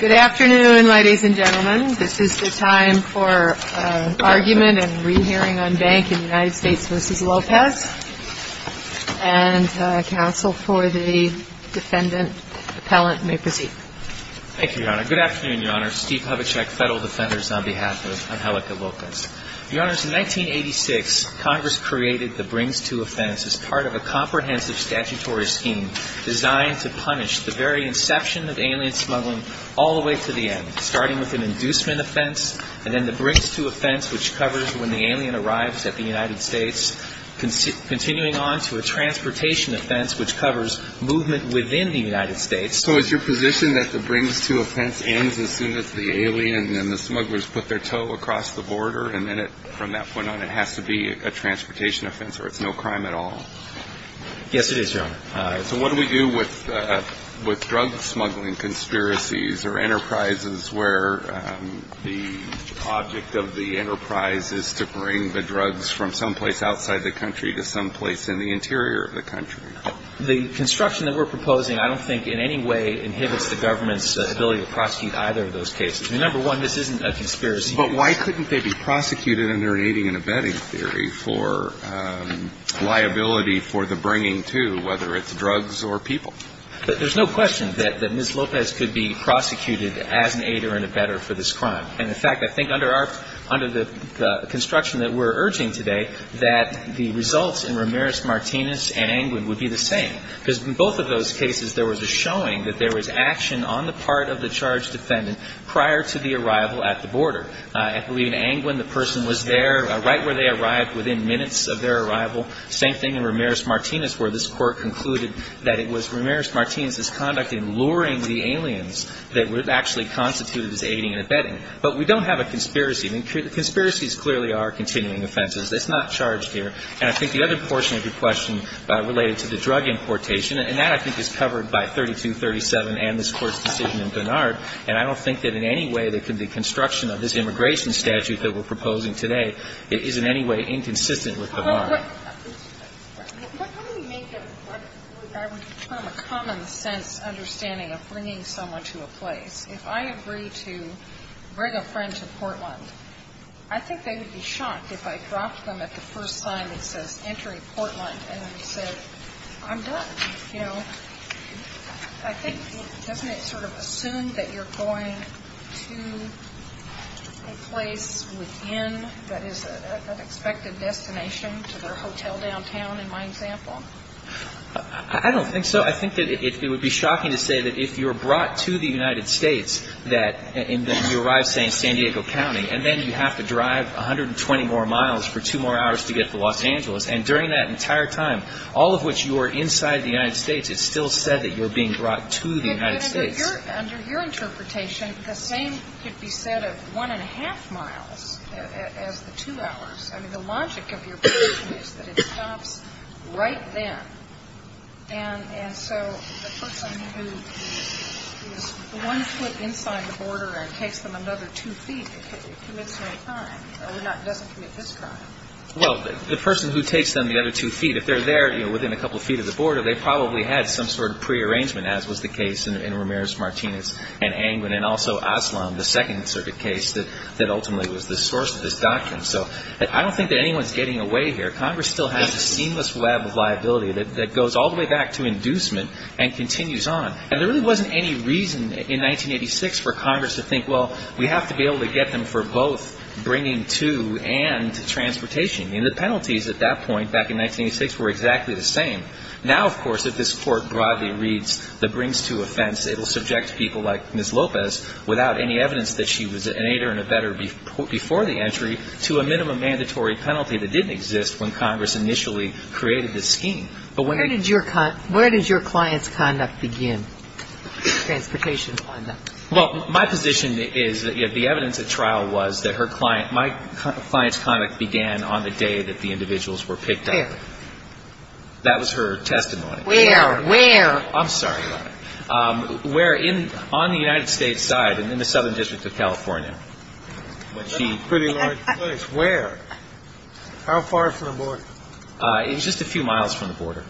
Good afternoon, ladies and gentlemen. This is the time for argument and re-hearing on bank in the United States v. Lopez. And counsel for the defendant, the appellant, may proceed. Thank you, Your Honor. Good afternoon, Your Honor. Steve Hovechek, federal defenders on behalf of Angelica Lopez. Your Honors, in 1986, Congress created the Brings to Offense as part of a comprehensive statutory scheme designed to punish the very inception of alien smuggling all the way to the end, starting with an inducement offense, and then the Brings to Offense, which covers when the alien arrives at the United States, continuing on to a transportation offense, which covers movement within the United States. So it's your position that the Brings to Offense ends as soon as the alien and the smugglers put their toe across the border, and then from that point on, it has to be a transportation offense, or it's no crime at all? Yes, it is, Your Honor. So what do we do with drug smuggling conspiracies or enterprises where the object of the enterprise is to bring the drugs from some place outside the country to some place in the interior of the country? The construction that we're proposing I don't think in any way inhibits the government's ability to prosecute either of those cases. Number one, this isn't a conspiracy. But why couldn't they be prosecuted under an aiding and abetting theory for liability for the bringing to, whether it's drugs or people? There's no question that Ms. Lopez could be prosecuted as an aider and abetter for this crime. And, in fact, I think under our – under the construction that we're urging today that the results in Ramirez-Martinez and Angwin would be the same, because in both of those cases, there was a showing that there was action on the part of the charged defendant prior to the arrival at the border. I believe in Angwin, the person was there right where they arrived within minutes of their arrival. Same thing in Ramirez-Martinez, where this Court concluded that it was Ramirez-Martinez's conduct in luring the aliens that would have actually constituted as aiding and abetting. But we don't have a conspiracy. I mean, conspiracies clearly are continuing offenses. It's not charged here. And I think the other portion of your question related to the drug importation, and that, I think, is covered by 3237 and this Court's decision in Bernard. And I don't think that in any way that the construction of this immigration statute that we're proposing today is in any way inconsistent with the harm. What – how do we make a – what I would term a common-sense understanding of bringing someone to a place? If I agree to bring a friend to Portland, I think they would be shocked if I dropped them at the first sign that says, entering Portland, and said, I'm done. You know, I think – doesn't it sort of assume that you're going to a place within that is an unexpected destination, to their hotel downtown, in my example? I don't think so. I think that it would be shocking to say that if you're brought to the United States that – and then you arrive, say, in San Diego County, and then you have to drive 120 more miles for two more hours to get to Los Angeles, and during that entire time, all of which you are inside the United States, it's still said that you're being brought to the United States. And under your interpretation, the same could be said of one and a half miles as the two hours. I mean, the logic of your position is that it stops right then. And so the person who is one foot inside the border and takes them another two feet commits no crime, or not – doesn't commit this crime. Well, the person who takes them the other two feet, if they're there within a couple feet of the border, they probably had some sort of prearrangement, as was the case in Ramirez-Martinez and Angwin, and also Aslam, the Second Circuit case that ultimately was the source of this doctrine. So I don't think that anyone's getting away here. Congress still has a seamless web of liability that goes all the way back to inducement and continues on. And there really wasn't any reason in 1986 for Congress to think, well, we have to be And the penalties at that point, back in 1986, were exactly the same. Now, of course, if this Court broadly reads the brings to offense, it will subject people like Ms. Lopez, without any evidence that she was an aider and abetter before the entry, to a minimum mandatory penalty that didn't exist when Congress initially created this scheme. But where did your client's conduct begin, transportation conduct? Well, my position is that the evidence at trial was that her client – my client's conduct began on the day that the individuals were picked up. Where? That was her testimony. Where? Where? I'm sorry about it. Where? On the United States side and in the Southern District of California. That's a pretty large place. Where? How far from the border? It was just a few miles from the border.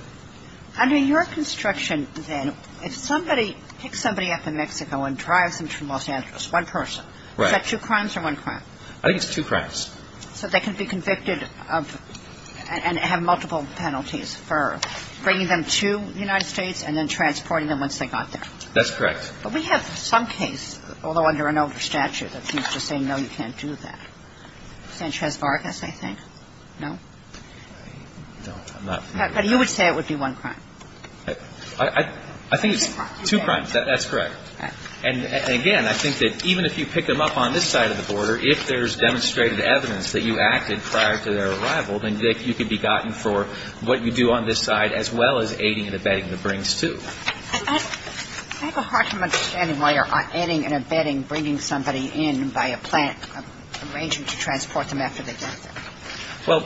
Under your construction, then, if somebody picks somebody up in Mexico and drives them to Los Angeles, one person, is that two crimes or one crime? I think it's two crimes. So they can be convicted of – and have multiple penalties for bringing them to the United States and then transporting them once they got there? That's correct. But we have some case, although under an older statute, that seems to say, no, you can't do that. Sanchez-Vargas, I think? No? No, I'm not familiar with that. But you would say it would be one crime? I think it's two crimes. That's correct. And again, I think that even if you pick them up on this side of the border, if there's demonstrated evidence that you acted prior to their arrival, then, Dick, you could be gotten for what you do on this side as well as aiding and abetting the brings, too. I have a hard time understanding why you're aiding and abetting bringing somebody in by a plant, arranging to transport them after they get there. Well,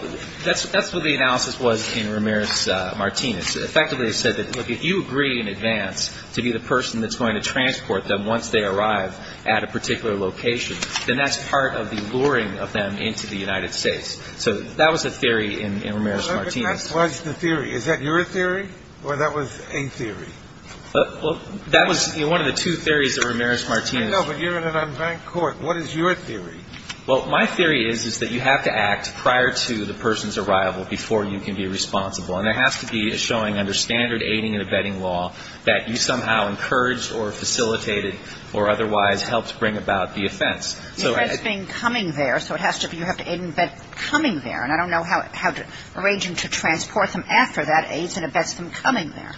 that's what the analysis was in Ramirez-Martinez. Effectively, it said that, look, if you agree in advance to be the person that's going to transport them once they arrive at a particular location, then that's part of the luring of them into the United States. So that was a theory in Ramirez-Martinez. But that was the theory. Is that your theory? Or that was a theory? Well, that was one of the two theories that Ramirez-Martinez. No, but you're in an unbanked court. What is your theory? Well, my theory is, is that you have to act prior to the person's arrival before you can be responsible. And there has to be a showing under standard aiding and abetting law that you somehow encouraged or facilitated or otherwise helped bring about the offense. The offense being coming there, so it has to be you have to aid and abet coming there. And I don't know how to arrange them to transport them after that aids and abets them coming there.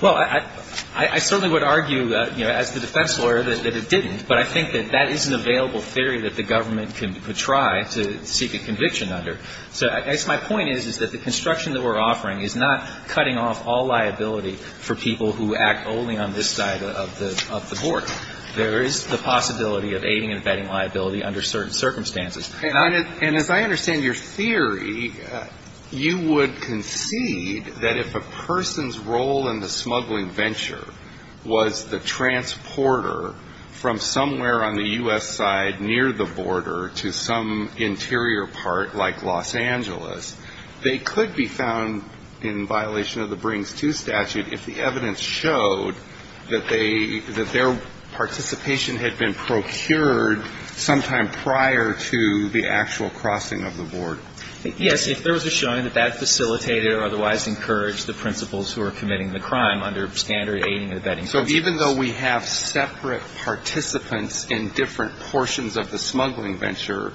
Well, I certainly would argue, you know, as the defense lawyer, that it didn't. But I think that that is an available theory that the government could try to seek a conviction under. So my point is, is that the construction that we're offering is not cutting off all of the border. There is the possibility of aiding and abetting liability under certain circumstances. And as I understand your theory, you would concede that if a person's role in the smuggling venture was the transporter from somewhere on the U.S. side near the border to some interior part like Los Angeles, they could be found in violation of the that they that their participation had been procured sometime prior to the actual crossing of the border. Yes. If there was a showing that that facilitated or otherwise encouraged the principals who are committing the crime under standard aiding and abetting. So even though we have separate participants in different portions of the smuggling venture,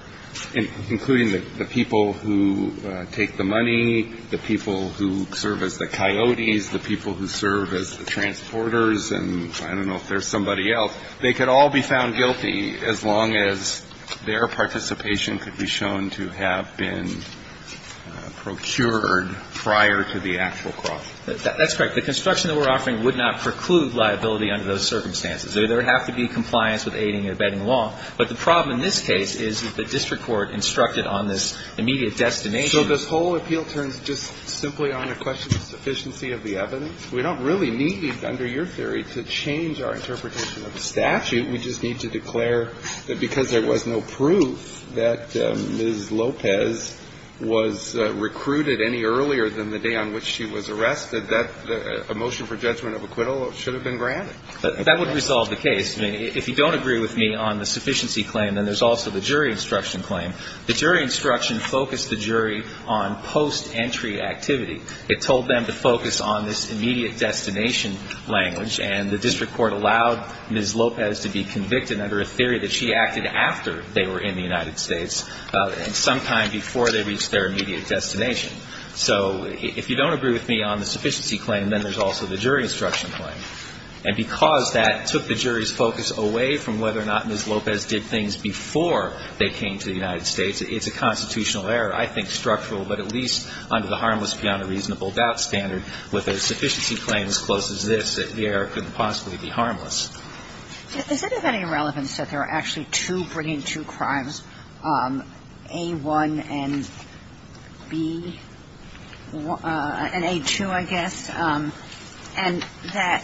including the people who take the money, the people who serve as the coyotes, the people who serve as the transporters, and I don't know if there's somebody else, they could all be found guilty as long as their participation could be shown to have been procured prior to the actual crossing. That's correct. The construction that we're offering would not preclude liability under those circumstances. There would have to be compliance with aiding and abetting law. But the problem in this case is that the district court instructed on this immediate destination. So this whole appeal turns just simply on a question of sufficiency of the evidence. We don't really need, under your theory, to change our interpretation of the statute. We just need to declare that because there was no proof that Ms. Lopez was recruited any earlier than the day on which she was arrested, that a motion for judgment of acquittal should have been granted. That would resolve the case. I mean, if you don't agree with me on the sufficiency claim, then there's also the jury instruction claim. The jury instruction focused the jury on post-entry activity. It told them to focus on this immediate destination language. And the district court allowed Ms. Lopez to be convicted under a theory that she acted after they were in the United States and sometime before they reached their immediate destination. So if you don't agree with me on the sufficiency claim, then there's also the jury instruction claim. And because that took the jury's focus away from whether or not Ms. Lopez did things before they came to the United States, it's a constitutional error, I think, structural, but at least under the harmless beyond a reasonable doubt standard, with a sufficiency claim as close as this, that the error couldn't possibly be harmless. Is it of any relevance that there are actually two, bringing two crimes, A-1 and B, and A-2, I guess? And that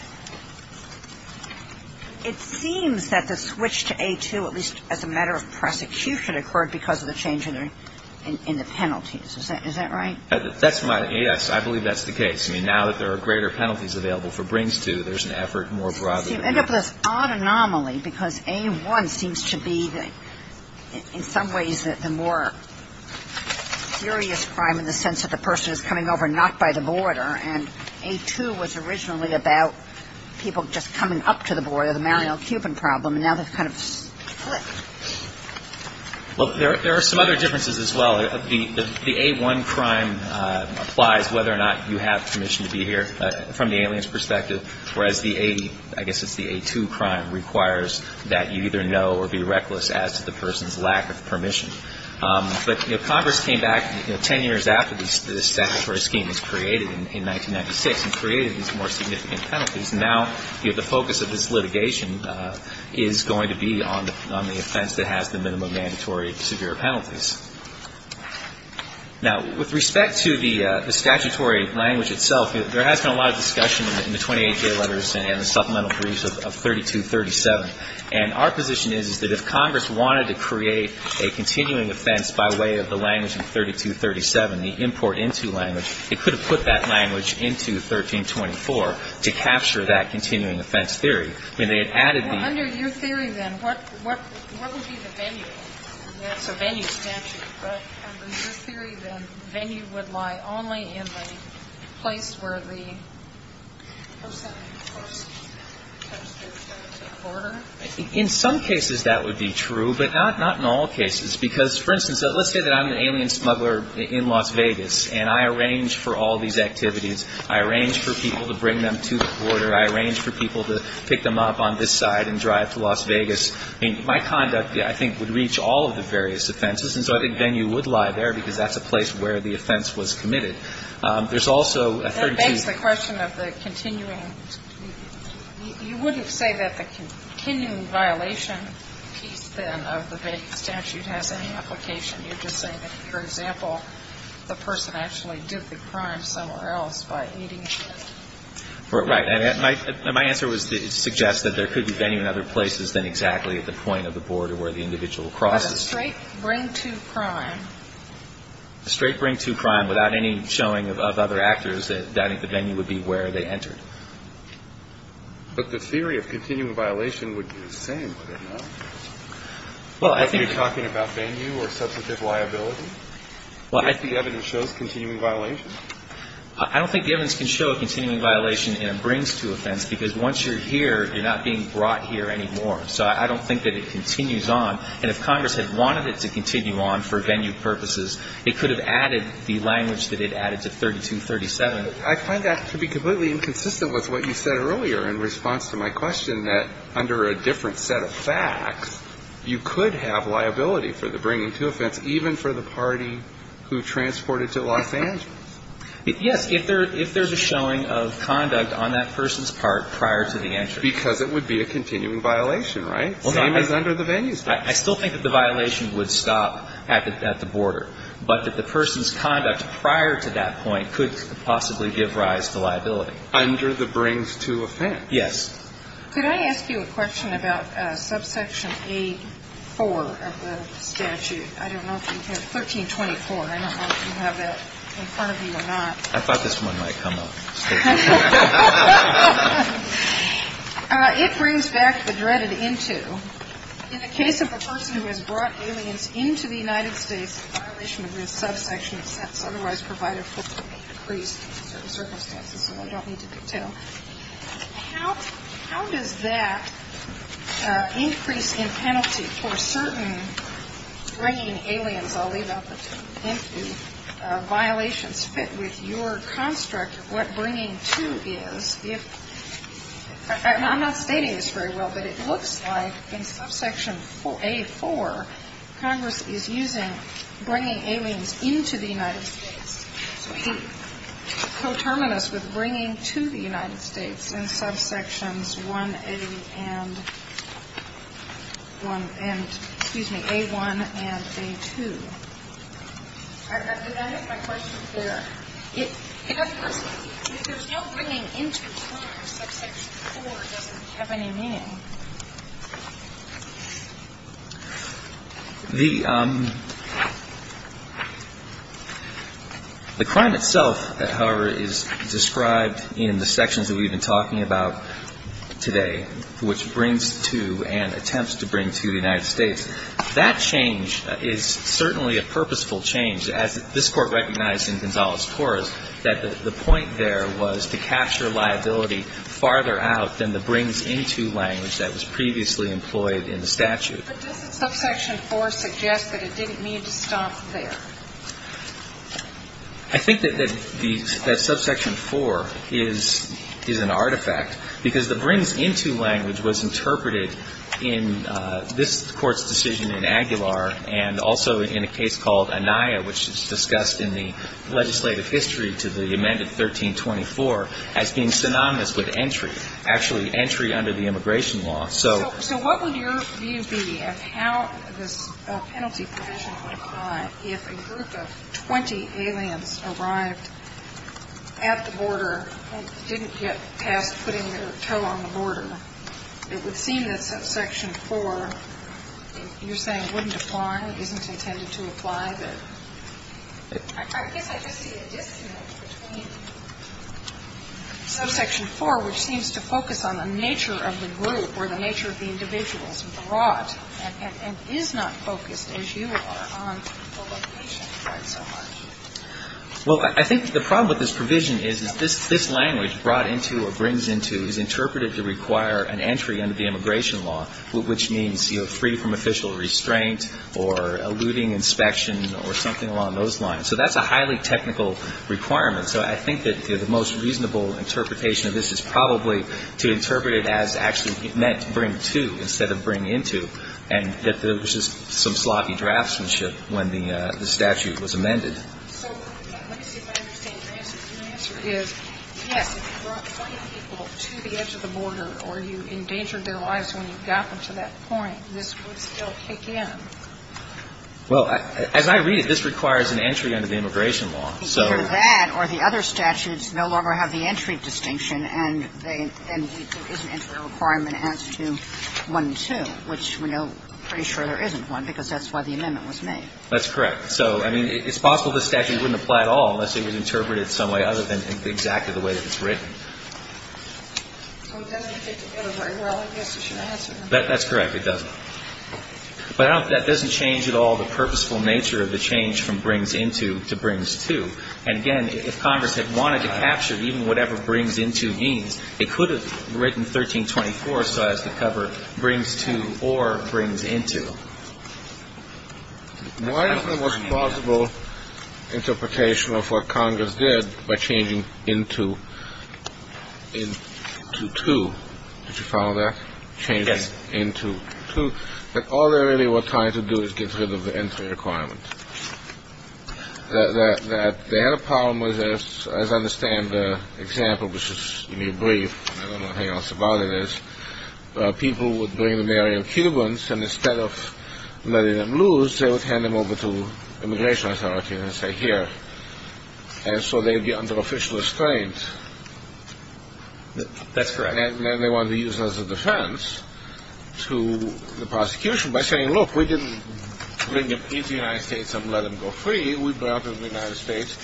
it seems that the switch to A-2, at least as a matter of prosecution, occurred because of the change in the penalties. Is that right? That's my idea. Yes, I believe that's the case. I mean, now that there are greater penalties available for brings two, there's an effort more broadly to do that. So you end up with this odd anomaly, because A-1 seems to be, in some ways, the more serious crime in the sense that the person is coming over not by the border. And A-2 was originally about people just coming up to the border, the Mariel-Cuban problem, and now they've kind of split. Well, there are some other differences as well. The A-1 crime applies whether or not you have permission to be here from the alien's perspective, whereas the A, I guess it's the A-2 crime, requires that you either know or be reckless as to the person's lack of permission. But if Congress came back 10 years after this statutory scheme was created in 1996 and created these more significant penalties, now the focus of this litigation is going to be on the offense that has the minimum mandatory severe penalties. Now, with respect to the statutory language itself, there has been a lot of discussion in the 28-J letters and the supplemental briefs of 32-37. And our position is, is that if Congress wanted to create a continuing offense by way of the language of 32-37, the import into language, it could have put that language into 13-24 to capture that continuing offense theory. I mean, they had added the ---- Well, under your theory, then, what would be the venue? So venue statute, right? Under your theory, then, venue would lie only in the place where the person was supposed to have touched this side of the border? In some cases, that would be true, but not in all cases. Because, for instance, let's say that I'm an alien smuggler in Las Vegas, and I arrange for all these activities. I arrange for people to bring them to the border. I arrange for people to pick them up on this side and drive to Las Vegas. I mean, my conduct, I think, would reach all of the various offenses. And so I think venue would lie there, because that's a place where the offense was committed. There's also a 32- You wouldn't say that the continuing violation piece, then, of the venue statute has any application. You're just saying that, for example, the person actually did the crime somewhere else by eating it. Right. And my answer was to suggest that there could be venue in other places than exactly at the point of the border where the individual crosses. But a straight bring-to crime. A straight bring-to crime without any showing of other actors, I think the venue would be where they entered. But the theory of continuing violation would be the same, would it not? Well, I think- Are you talking about venue or substantive liability? Well, I- If the evidence shows continuing violation? I don't think the evidence can show a continuing violation in a brings-to offense, because once you're here, you're not being brought here anymore. So I don't think that it continues on. And if Congress had wanted it to continue on for venue purposes, it could have added the language that it added to 32-37. I find that to be completely inconsistent with what you said earlier in response to my question, that under a different set of facts, you could have liability for the bring-to offense, even for the party who transported to Los Angeles. Yes, if there's a showing of conduct on that person's part prior to the entry. Because it would be a continuing violation, right? Same as under the venues case. I still think that the violation would stop at the border, but that the person's prior to that point could possibly give rise to liability. Under the brings-to offense? Yes. Could I ask you a question about subsection 8-4 of the statute? I don't know if you have 13-24. I don't know if you have that in front of you or not. I thought this one might come up. It brings back the dreaded into. In the case of a person who has brought aliens into the United States in violation of this subsection, that's otherwise provided for to be decreased in certain circumstances, so I don't need to do two. How does that increase in penalty for certain bringing aliens, I'll leave out the two, into violations fit with your construct of what bringing to is? If I'm not stating this very well, but it looks like in subsection A-4, Congress is using bringing aliens into the United States. So he's coterminous with bringing to the United States in subsections 1A and 1 and, excuse me, A-1 and A-2. Did I get my question clear? If there's no bringing into terms, subsection 4 doesn't have any meaning. The crime itself, however, is described in the sections that we've been talking about today, which brings to and attempts to bring to the United States. That change is certainly a purposeful change. As this Court recognized in Gonzalez-Torres, that the point there was to capture liability farther out than the brings into language that was previously employed in the statute. But doesn't subsection 4 suggest that it didn't mean to stop there? I think that subsection 4 is an artifact, because the brings into language was interpreted in this Court's decision in Aguilar and also in a case called Anaya, which is discussed in the legislative history to the amended 1324 as being synonymous with entry, actually entry under the immigration law. So what would your view be of how this penalty provision would apply if a group of 20 aliens arrived at the border and didn't get past putting their toe on the border? It would seem that subsection 4, you're saying wouldn't apply, isn't intended to apply, but I guess I just see a disconnect between subsection 4, which seems to focus on the nature of the group or the nature of the individuals brought and is not focused as you are on the location quite so much. Well, I think the problem with this provision is this language, brought into or brings into, is interpreted to require an entry under the immigration law, which means free from official restraint or alluding inspection or something along those lines. So that's a highly technical requirement. So I think that the most reasonable interpretation of this is probably to interpret it as actually meant bring to instead of bring into, and that there was just some sloppy draftsmanship when the statute was amended. So let me see if I understand your answer. Your answer is, yes, if you brought 20 people to the edge of the border or you endangered their lives when you got them to that point, this would still kick in. Well, as I read it, this requires an entry under the immigration law. So that or the other statutes no longer have the entry distinction, and there is an entry requirement as to 1 and 2, which we know pretty sure there isn't one because that's why the amendment was made. That's correct. So, I mean, it's possible the statute wouldn't apply at all unless it was interpreted some way other than exactly the way that it's written. So it doesn't fit together very well, I guess you should answer that. That's correct. It doesn't. But that doesn't change at all the purposeful nature of the change from brings into to brings to. And, again, if Congress had wanted to capture even whatever brings into means, it could have written 1324 so as to cover brings to or brings into. Into to, did you follow that? Changes into to. But all they really were trying to do is get rid of the entry requirement. That they had a problem with this, as I understand the example, which is really brief, I don't know anything else about it is, people would bring the Marion Cubans and instead of letting them lose, they would hand them over to immigration authorities and say, here. And so they'd be under official restraint. That's correct. And then they wanted to use it as a defense to the prosecution by saying, look, we didn't bring them into the United States and let them go free. We brought them into the United States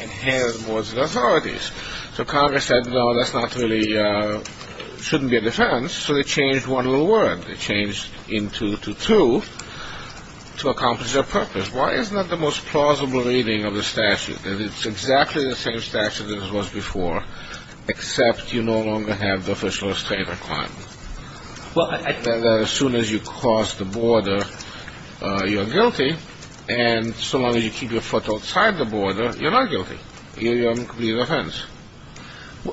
and handed them over to the authorities. So Congress said, no, that's not really, shouldn't be a defense. So they changed one little word. They changed into to to accomplish their purpose. Why isn't that the most plausible reading of the statute? It's exactly the same statute as it was before, except you no longer have the official restraint requirement. As soon as you cross the border, you're guilty. And so long as you keep your foot outside the border, you're not guilty. You're on complete offense.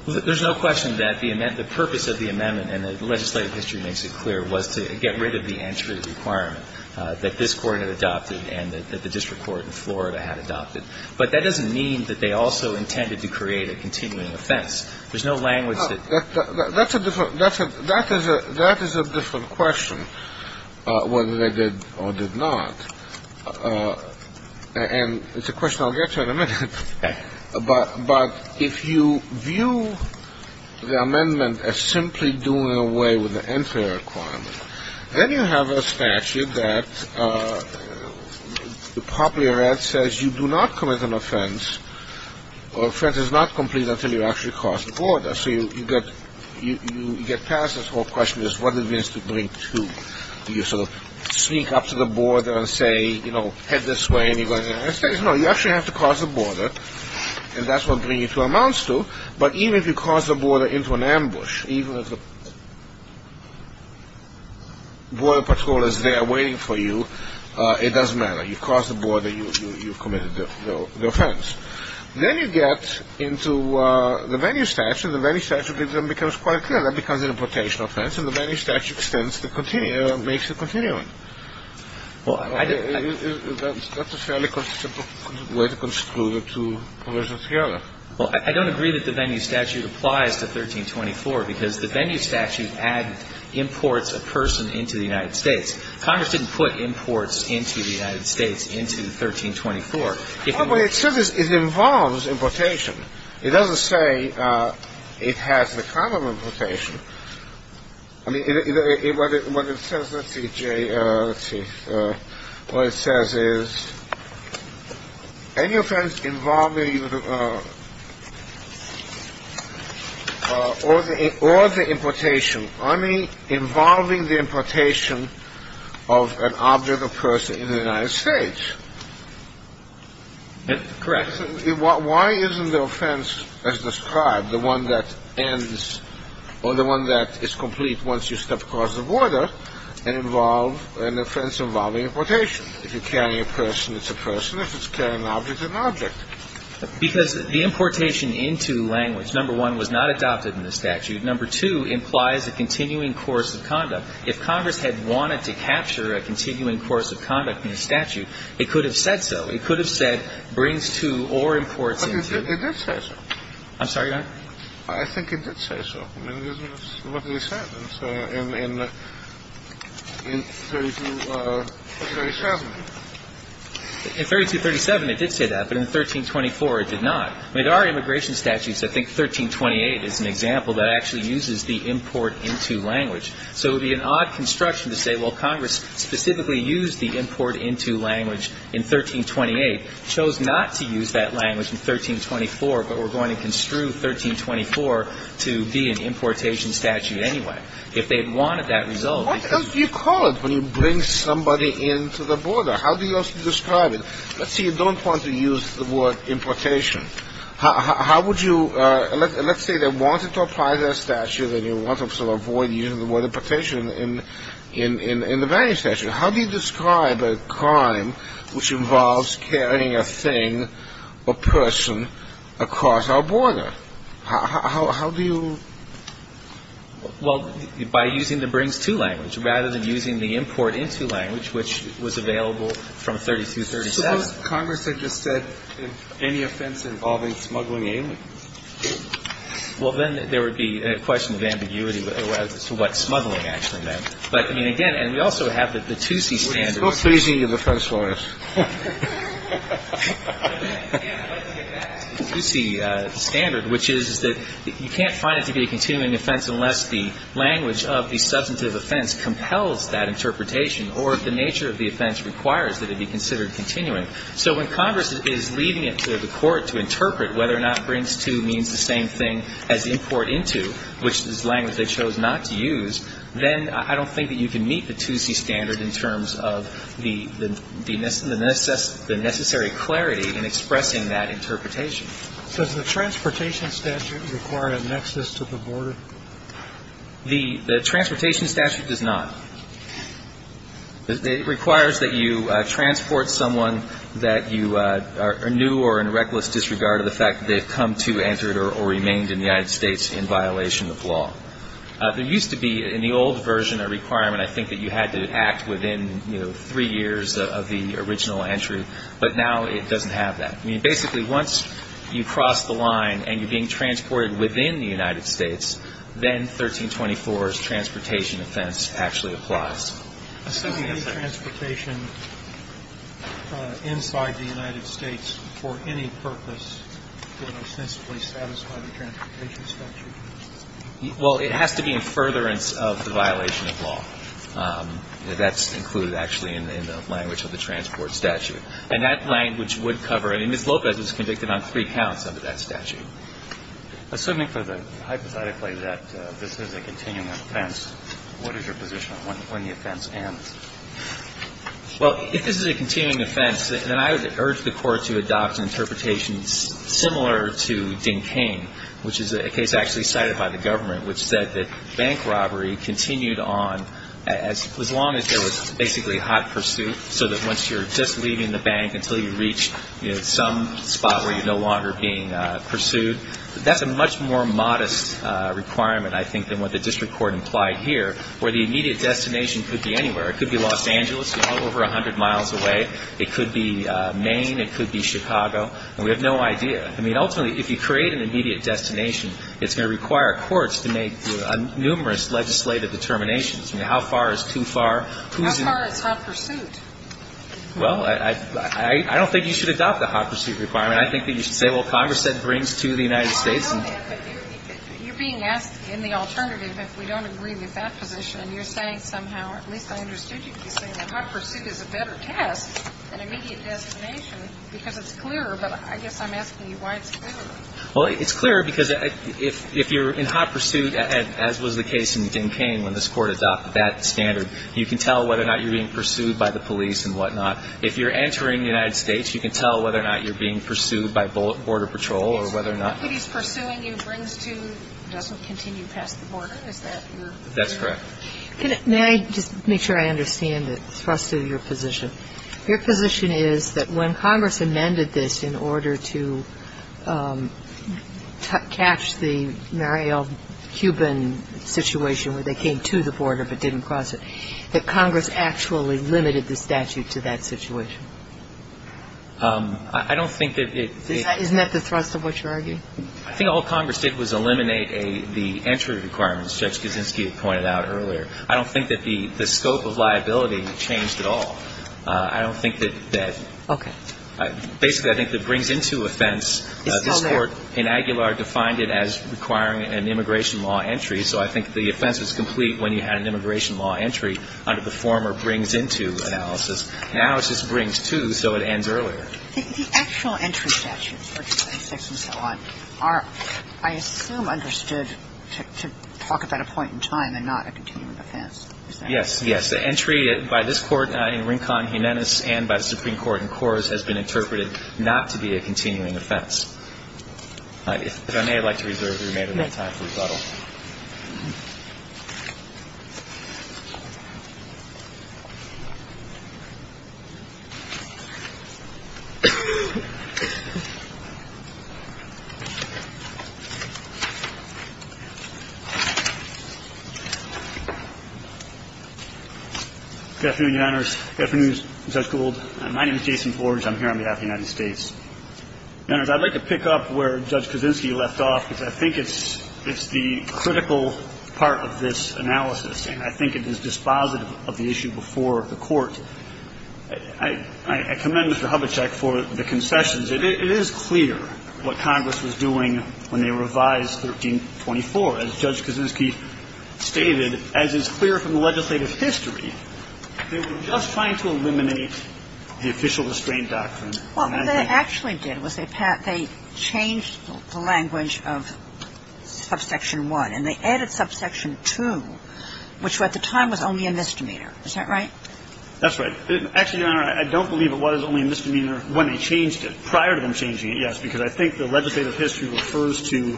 There's no question that the purpose of the amendment and the legislative history makes it clear was to get rid of the entry requirement that this Court had adopted and that the district court in Florida had adopted. But that doesn't mean that they also intended to create a continuing offense. There's no language that that's a different that's a that is a that is a different question, whether they did or did not. And it's a question I'll get to in a minute. But but if you view the amendment as simply doing away with the entry requirement, then you have a statute that the popular ad says you do not commit an offense or offense is not complete until you actually cross the border. So you get you get past this whole question is what it means to bring to you sort of sneak up to the border and say, you know, head this way and you're going to say no, you actually have to cross the border. And that's what bringing to amounts to. But even if you cross the border into an ambush, even if the border patrol is there waiting for you, it doesn't matter. You cross the border, you've committed the offense. Then you get into the venue statute. And the venue statute becomes quite clear. That becomes an importation offense. And the venue statute extends to continue makes a continuing. Well, I don't agree that the venue statute applies to 1324 because the venue statute add imports a person into the United States. Congress didn't put imports into the United States into 1324. It says it involves importation. It doesn't say it has the kind of importation. I mean, what it says, let's see, what it says is any offense involving or the importation only involving the importation of an object or person in the United States. Correct. Why isn't the offense as described, the one that ends or the one that is complete once you step across the border and involve an offense involving importation? If you carry a person, it's a person. If it's carrying an object, it's an object. Because the importation into language, number one, was not adopted in the statute. Number two implies a continuing course of conduct. If Congress had wanted to capture a continuing course of conduct in the statute, it could have said so. It could have said brings to or imports into. But it did say so. I'm sorry, Your Honor? I think it did say so. I mean, what did it say? In 3237. In 3237, it did say that. But in 1324, it did not. I mean, there are immigration statutes. I think 1328 is an example that actually uses the import into language. So it would be an odd construction to say, well, Congress specifically used the import into language in 1328, chose not to use that language in 1324, but were going to construe 1324 to be an importation statute anyway. If they had wanted that result. What else do you call it when you bring somebody into the border? How do you describe it? Let's say you don't want to use the word importation. How would you – let's say they wanted to apply that statute and they wanted to sort of avoid using the word importation in the value statute. How do you describe a crime which involves carrying a thing or person across our border? How do you? Well, by using the brings to language, rather than using the import into language, which was available from 3237. Suppose Congress had just said any offense involving smuggling alien? Well, then there would be a question of ambiguity as to what smuggling actually meant. But, I mean, again, and we also have the Patoussi standard. We're still freezing your defense for us. Patoussi standard, which is that you can't find it to be a continuing offense unless the language of the substantive offense compels that interpretation or the nature of the offense requires that it be considered continuing. So when Congress is leaving it to the court to interpret whether or not brings to means the same thing as import into, which is the language they chose not to use, then I don't think that you can meet the Patoussi standard in terms of the necessary clarity in expressing that interpretation. Does the transportation statute require a nexus to the border? The transportation statute does not. It requires that you transport someone that you are new or in reckless disregard of the fact that they've come to, entered, or remained in the United States in violation of law. There used to be, in the old version, a requirement, I think, that you had to act within, you know, three years of the original entry. But now it doesn't have that. I mean, basically, once you cross the line and you're being transported within the United States, then 1324's transportation offense actually applies. I said any transportation inside the United States for any purpose would ostensibly satisfy the transportation statute. Well, it has to be in furtherance of the violation of law. That's included, actually, in the language of the transport statute. And that language would cover — I mean, Ms. Lopez was convicted on three counts under that statute. Assuming, hypothetically, that this is a continuing offense, what is your position on when the offense ends? Well, if this is a continuing offense, then I would urge the Court to adopt an interpretation similar to Dinkane, which is a case actually cited by the government, which said that bank robbery continued on as long as there was basically hot pursuit, so that once you're just leaving the bank until you reach, you know, some spot where you're no longer being pursued, that's a much more modest requirement, I think, than what the district court implied here, where the immediate destination could be anywhere. It could be Los Angeles. It could be all over 100 miles away. It could be Maine. It could be Chicago. And we have no idea. I mean, ultimately, if you create an immediate destination, it's going to require courts to make numerous legislative determinations. I mean, how far is too far? How far is hot pursuit? Well, I don't think you should adopt the hot pursuit requirement. I think that you should say, well, Congress said brings to the United States. You're being asked in the alternative if we don't agree with that position, and you're saying somehow, at least I understood you to be saying that hot pursuit is a better task than immediate destination because it's clearer. But I guess I'm asking you why it's clearer. Well, it's clearer because if you're in hot pursuit, as was the case in Dinkane, when this Court adopted that standard, you can tell whether or not you're being pursued by the police and whatnot. If you're entering the United States, you can tell whether or not you're being pursued by Border Patrol or whether or not... So what he's pursuing you brings to doesn't continue past the border? Is that your... That's correct. May I just make sure I understand the thrust of your position? Your position is that when Congress amended this in order to catch the Mariel Cuban situation where they came to the border but didn't cross it, that Congress actually limited the statute to that situation? I don't think that it... Isn't that the thrust of what you're arguing? I think all Congress did was eliminate the entry requirements. Judge Kaczynski had pointed out earlier. I don't think that the scope of liability changed at all. I don't think that that... Okay. Basically, I think that brings into offense... It's still there. ...this Court in Aguilar defined it as requiring an immigration law entry. So I think the offense was complete when you had an immigration law entry under the former brings into analysis. Now it just brings to, so it ends earlier. The actual entry statutes, 326 and so on, are, I assume, understood to talk about a point in time and not a continuing offense, is that right? Yes. Yes. The entry by this Court in Rincon, Jimenez, and by the Supreme Court in Coors has been interpreted not to be a continuing offense. If I may, I'd like to reserve the remainder of my time for rebuttal. Good afternoon, Your Honors. Good afternoon, Judge Gould. My name is Jason Forge. I'm here on behalf of the United States. Your Honors, I'd like to pick up where Judge Kaczynski left off, because I think it's the critical part of this analysis, and I think it is dispositive of the issue before the Court. I commend Mr. Hubachek for the concessions. It is clear what Congress was doing when they revised 1324. As Judge Kaczynski stated, as is clear from the legislative history, they were just trying to eliminate the official restraint doctrine. Well, what they actually did was they changed the language of subsection 1, and they added subsection 2, which at the time was only a misdemeanor. Is that right? That's right. Actually, Your Honor, I don't believe it was only a misdemeanor when they changed it. Prior to them changing it, yes, because I think the legislative history refers to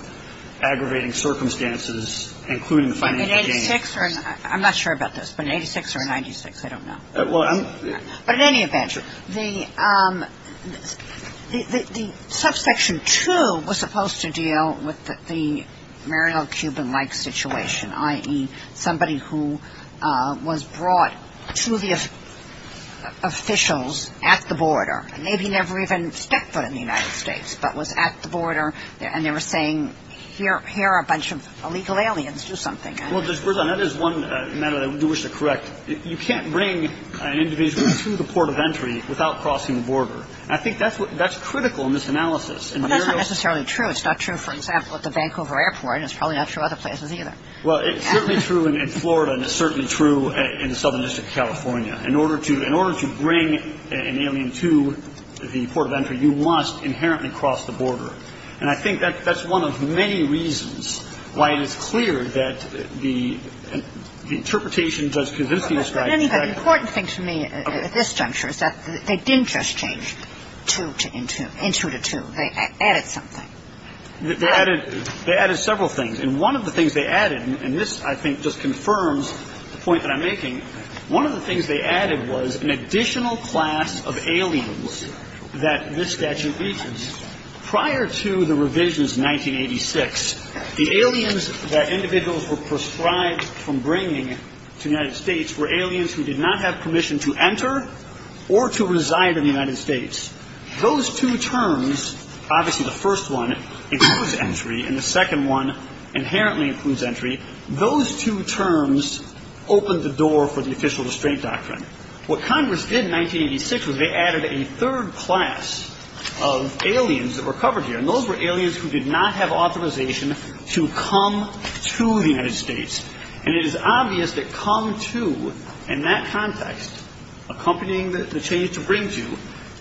aggravating circumstances, including the financial gain. I'm not sure about this, but an 86 or a 96, I don't know. But at any event, the subsection 2 was supposed to deal with the Mariel Cuban-like situation, i.e., somebody who was brought to the officials at the border, and maybe never even stepped foot in the United States, but was at the border, and they were saying, here are a bunch of illegal aliens, do something. Well, Judge Berzon, that is one matter that we wish to correct. You can't bring an individual to the port of entry without crossing the border. I think that's critical in this analysis. But that's not necessarily true. It's not true, for example, at the Vancouver Airport. And it's probably not true other places, either. Well, it's certainly true in Florida, and it's certainly true in the Southern District of California. In order to bring an alien to the port of entry, you must inherently cross the border. And I think that's one of many reasons why it is clear that the interpretation Judge Kavithia described is correct. But the important thing to me at this juncture is that they didn't just change 2 to Intune, Intune to 2. They added something. They added several things. And one of the things they added, and this, I think, just confirms the point that I'm making, one of the things they added was an additional class of aliens that this statute reaches. Prior to the revisions in 1986, the aliens that individuals were prescribed from bringing to the United States were aliens who did not have permission to enter or to reside in the United States. Those two terms, obviously the first one includes entry, and the second one inherently includes entry, those two terms opened the door for the Official Restraint Doctrine. What Congress did in 1986 was they added a third class of aliens that were covered here. And those were aliens who did not have authorization to come to the United States. And it is obvious that come to, in that context, accompanying the change to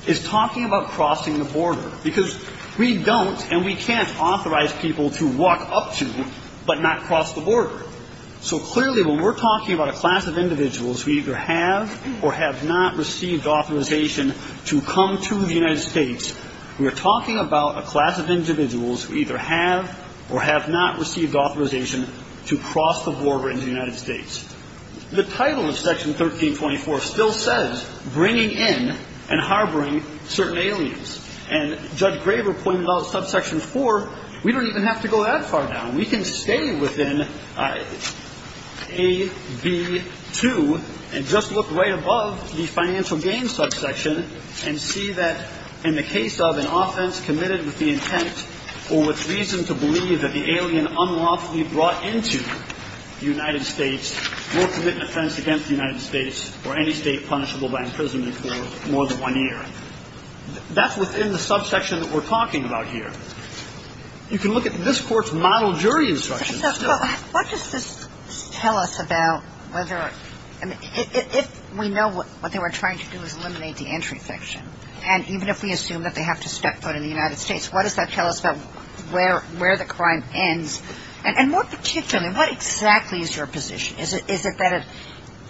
is talking about crossing the border. Because we don't and we can't authorize people to walk up to but not cross the border. So clearly when we're talking about a class of individuals who either have or have not received authorization to come to the United States, we are talking about a class of individuals who either have or have not received authorization to cross the border into the United States. The title of Section 1324 still says bringing in and harboring certain aliens. And Judge Graber pointed out subsection 4, we don't even have to go that far down. We can stay within A, B, 2, and just look right above the financial gain subsection and see that in the case of an offense committed with the intent or with reason to believe that the alien unlawfully brought into the United States will commit an offense against the United States or any state punishable by imprisonment for more than one year. That's within the subsection that we're talking about here. You can look at this Court's model jury instructions. But what does this tell us about whether, if we know what they were trying to do is eliminate the entry section, and even if we assume that they have to step foot in the United States, what does that tell us about where the crime ends? And more particularly, what exactly is your position? Is it that it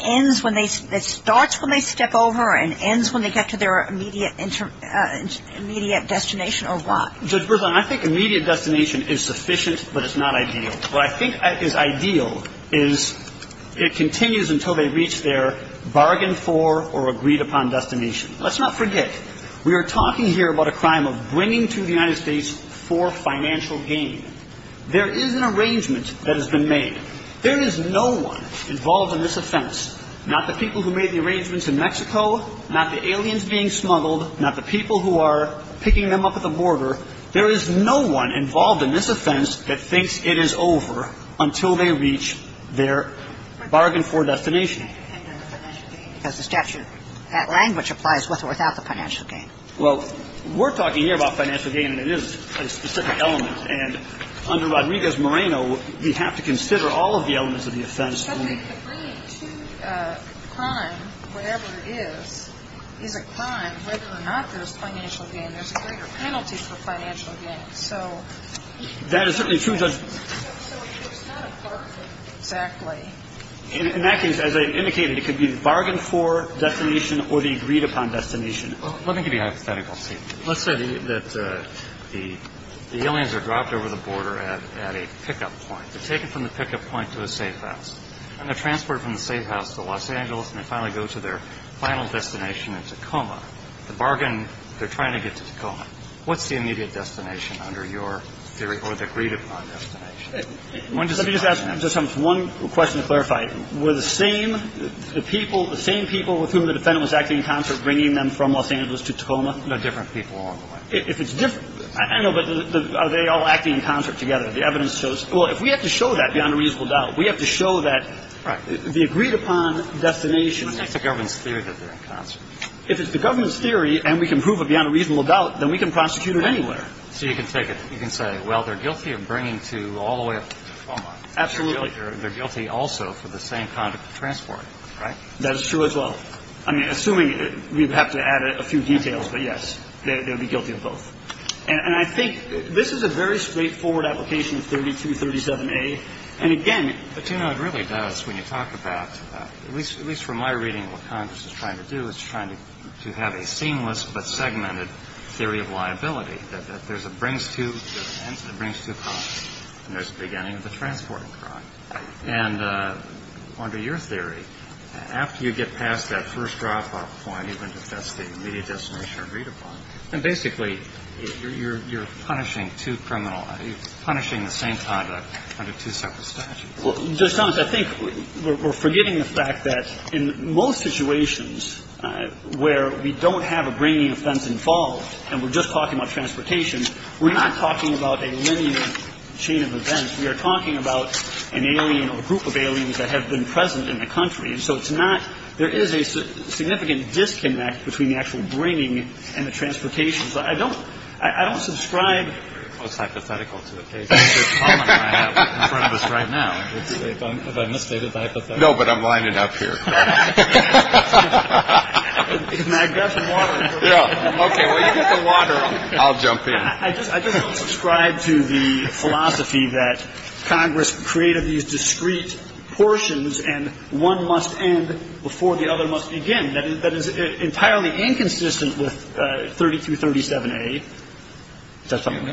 ends when they – it starts when they step over and ends when they get to their immediate – immediate destination, or why? Judge Berzon, I think immediate destination is sufficient, but it's not ideal. What I think is ideal is it continues until they reach their bargain for or agreed upon destination. Let's not forget, we are talking here about a crime of bringing to the United States for financial gain. There is an arrangement that has been made. There is no one involved in this offense, not the people who made the arrangements in Mexico, not the aliens being smuggled, not the people who are picking them up at the border. There is no one involved in this offense that thinks it is over until they reach their bargain for destination. Because the statute, that language applies with or without the financial gain. Well, we're talking here about financial gain, and it is a specific element. And under Rodriguez-Moreno, we have to consider all of the elements of the offense. But the agreement to crime, whatever it is, is a crime. Whether or not there is financial gain, there is a greater penalty for financial gain. So – That is certainly true, Judge – So it's not a bargain. Exactly. In that case, as I indicated, it could be the bargain for destination or the agreed upon destination. Let me give you a hypothetical, Steve. Let's say that the aliens are dropped over the border at a pickup point. They're taken from the pickup point to a safe house, and they're transferred from the safe house to Los Angeles, and they finally go to their final destination in Tacoma. The bargain, they're trying to get to Tacoma. What's the immediate destination under your theory or the agreed upon destination? Let me just ask one question to clarify. Were the same – the people – the same people with whom the defendant was acting in concert bringing them from Los Angeles to Tacoma? No different people along the way. If it's – I know, but are they all acting in concert together? The evidence shows – well, if we have to show that beyond a reasonable doubt, we have to show that the agreed upon destination – It's the government's theory that they're in concert. If it's the government's theory, and we can prove it beyond a reasonable doubt, then we can prosecute it anywhere. So you can take it – you can say, well, they're guilty of bringing to all the way up to Tacoma. Absolutely. They're guilty also for the same conduct of transport, right? That is true as well. I mean, assuming we have to add a few details, but yes, they'll be guilty of both. And I think this is a very straightforward application of 3237A. And again – But, you know, it really does, when you talk about – at least from my reading of what Congress is trying to do, it's trying to have a seamless but segmented theory of liability, that there's a brings to – there's an incident that brings to Congress, and there's the beginning of the transporting crime. And under your theory, after you get past that first drop-off point, even if that's the immediate destination agreed upon, then basically you're punishing two criminal – punishing the same conduct under two separate statutes. Well, Judge Thomas, I think we're forgetting the fact that in most situations where we don't have a bringing offense involved, and we're just talking about transportation, we're not talking about a linear chain of events. We are talking about an alien or a group of aliens that have been present in the country. And so it's not – there is a significant disconnect between the actual bringing and the transportation. So I don't – I don't subscribe – Well, it's hypothetical to the case. That's the comment I have in front of us right now, if I've misstated the hypothesis. No, but I'm lining up here. Can I grab some water? Yeah. Okay, well, you get the water. I'll jump in. I just – I don't subscribe to the philosophy that Congress created these discrete portions and one must end before the other must begin. That is entirely inconsistent with 3237A.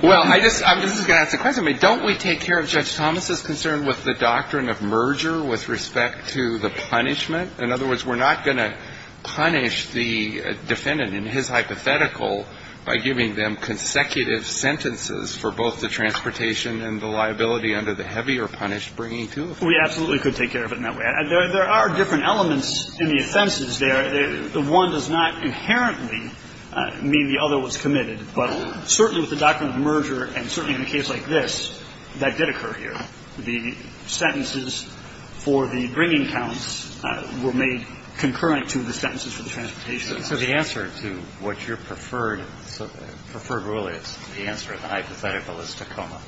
Well, I just – I'm just going to ask a question. Don't we take care of Judge Thomas' concern with the doctrine of merger with respect to the punishment? In other words, we're not going to punish the defendant in his hypothetical by giving them consecutive sentences for both the transportation and the liability under the heavy or punished bringing to him. We absolutely could take care of it in that way. There are different elements in the offenses there. The one does not inherently mean the other was committed. But certainly with the doctrine of merger, and certainly in a case like this, that did occur here. The sentences for the bringing counts were made concurrent to the sentences for the transportation. So the answer to what your preferred rule is, the answer to the hypothetical is Tacoma.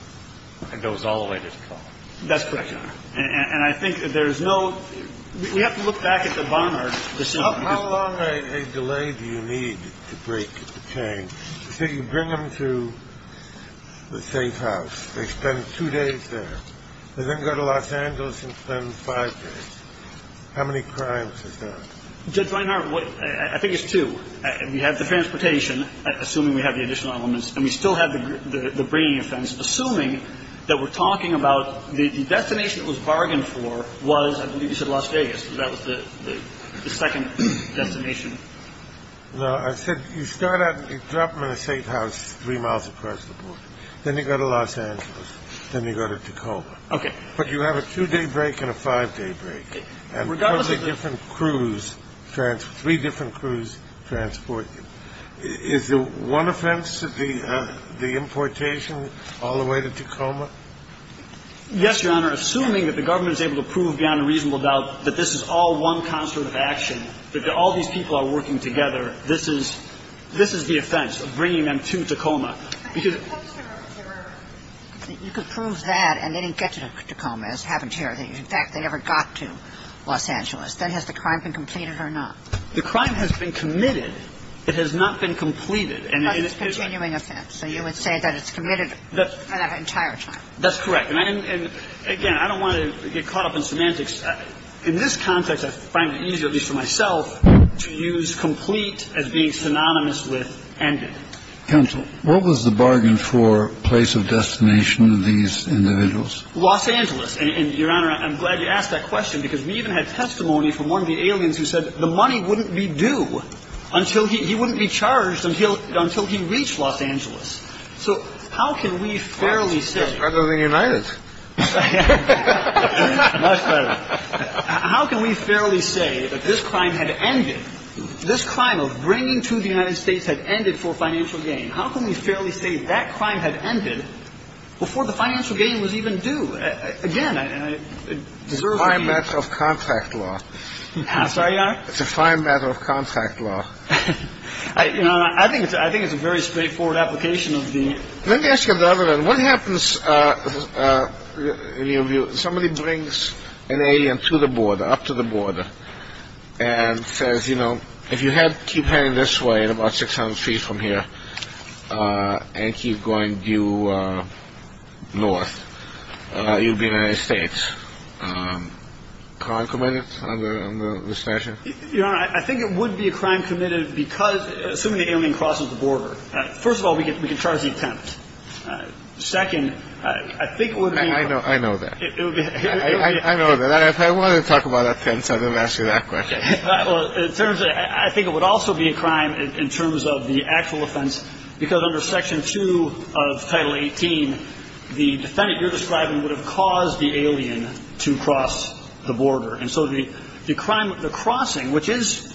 It goes all the way to Tacoma. That's correct, Your Honor. And I think there's no – we have to look back at the Bonner decision. How long a delay do you need to break the chain? So you bring them to the safe house. They spend two days there. They then go to Los Angeles and spend five days. How many crimes is that? Judge Reinhart, I think it's two. We have the transportation, assuming we have the additional elements, and we still have the bringing offense, assuming that we're talking about the destination it was bargained for was, I believe you said Las Vegas, because that was the second destination. No. I said you start out and you drop them in a safe house three miles across the border. Then you go to Los Angeles. Then you go to Tacoma. Okay. But you have a two-day break and a five-day break. And three different crews transport you. Is the one offense the importation all the way to Tacoma? Yes, Your Honor. Assuming that the government is able to prove beyond a reasonable doubt that this is all one concert of action, that all these people are working together, this is the offense of bringing them to Tacoma. You could prove that and they didn't get to Tacoma, as happened here. In fact, they never got to Los Angeles. Then has the crime been completed or not? The crime has been committed. It has not been completed. But it's a continuing offense. So you would say that it's committed for that entire time. That's correct. Again, I don't want to get caught up in semantics. In this context, I find it easier, at least for myself, to use complete as being synonymous with ended. Counsel, what was the bargain for place of destination of these individuals? Los Angeles. And Your Honor, I'm glad you asked that question because we even had testimony from one of the aliens who said the money wouldn't be due until he wouldn't be charged until he reached Los Angeles. So how can we fairly say? Better than the United. How can we fairly say that this crime had ended? This crime of bringing to the United States had ended for financial gain. How can we fairly say that crime had ended before the financial gain was even due? Again, it deserves a fine matter of contract law. How so, Your Honor? It's a fine matter of contract law. Your Honor, I think it's a very straightforward application of the. Let me ask you another one. What happens if somebody brings an alien to the border, up to the border and says, you know, if you had to keep heading this way at about 600 feet from here and keep going due north, you'd be in the United States. Crime committed under this statute? Your Honor, I think it would be a crime committed because assuming the alien crosses the border. First of all, we can charge the attempt. Second, I think it would be. I know that. I know that. If I wanted to talk about offense, I wouldn't ask you that question. I think it would also be a crime in terms of the actual offense because under Section 2 of Title 18, the defendant you're describing would have caused the alien to cross the border. And so the crime of the crossing, which is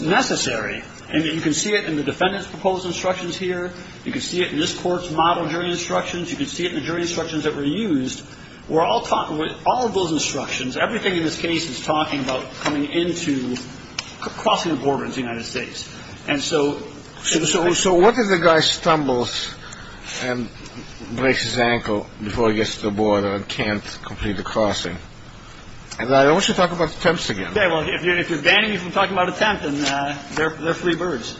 necessary, and you can see it in the defendant's proposed instructions here. You can see it in this court's model jury instructions. You can see it in the jury instructions that were used. We're all talking with all of those instructions. Everything in this case is talking about coming into, crossing the border into the United States. And so what if the guy stumbles and breaks his ankle before he gets to the border and can't complete the crossing? And I don't want to talk about attempts again. Yeah, well, if you're banning me from talking about attempt, then they're free birds.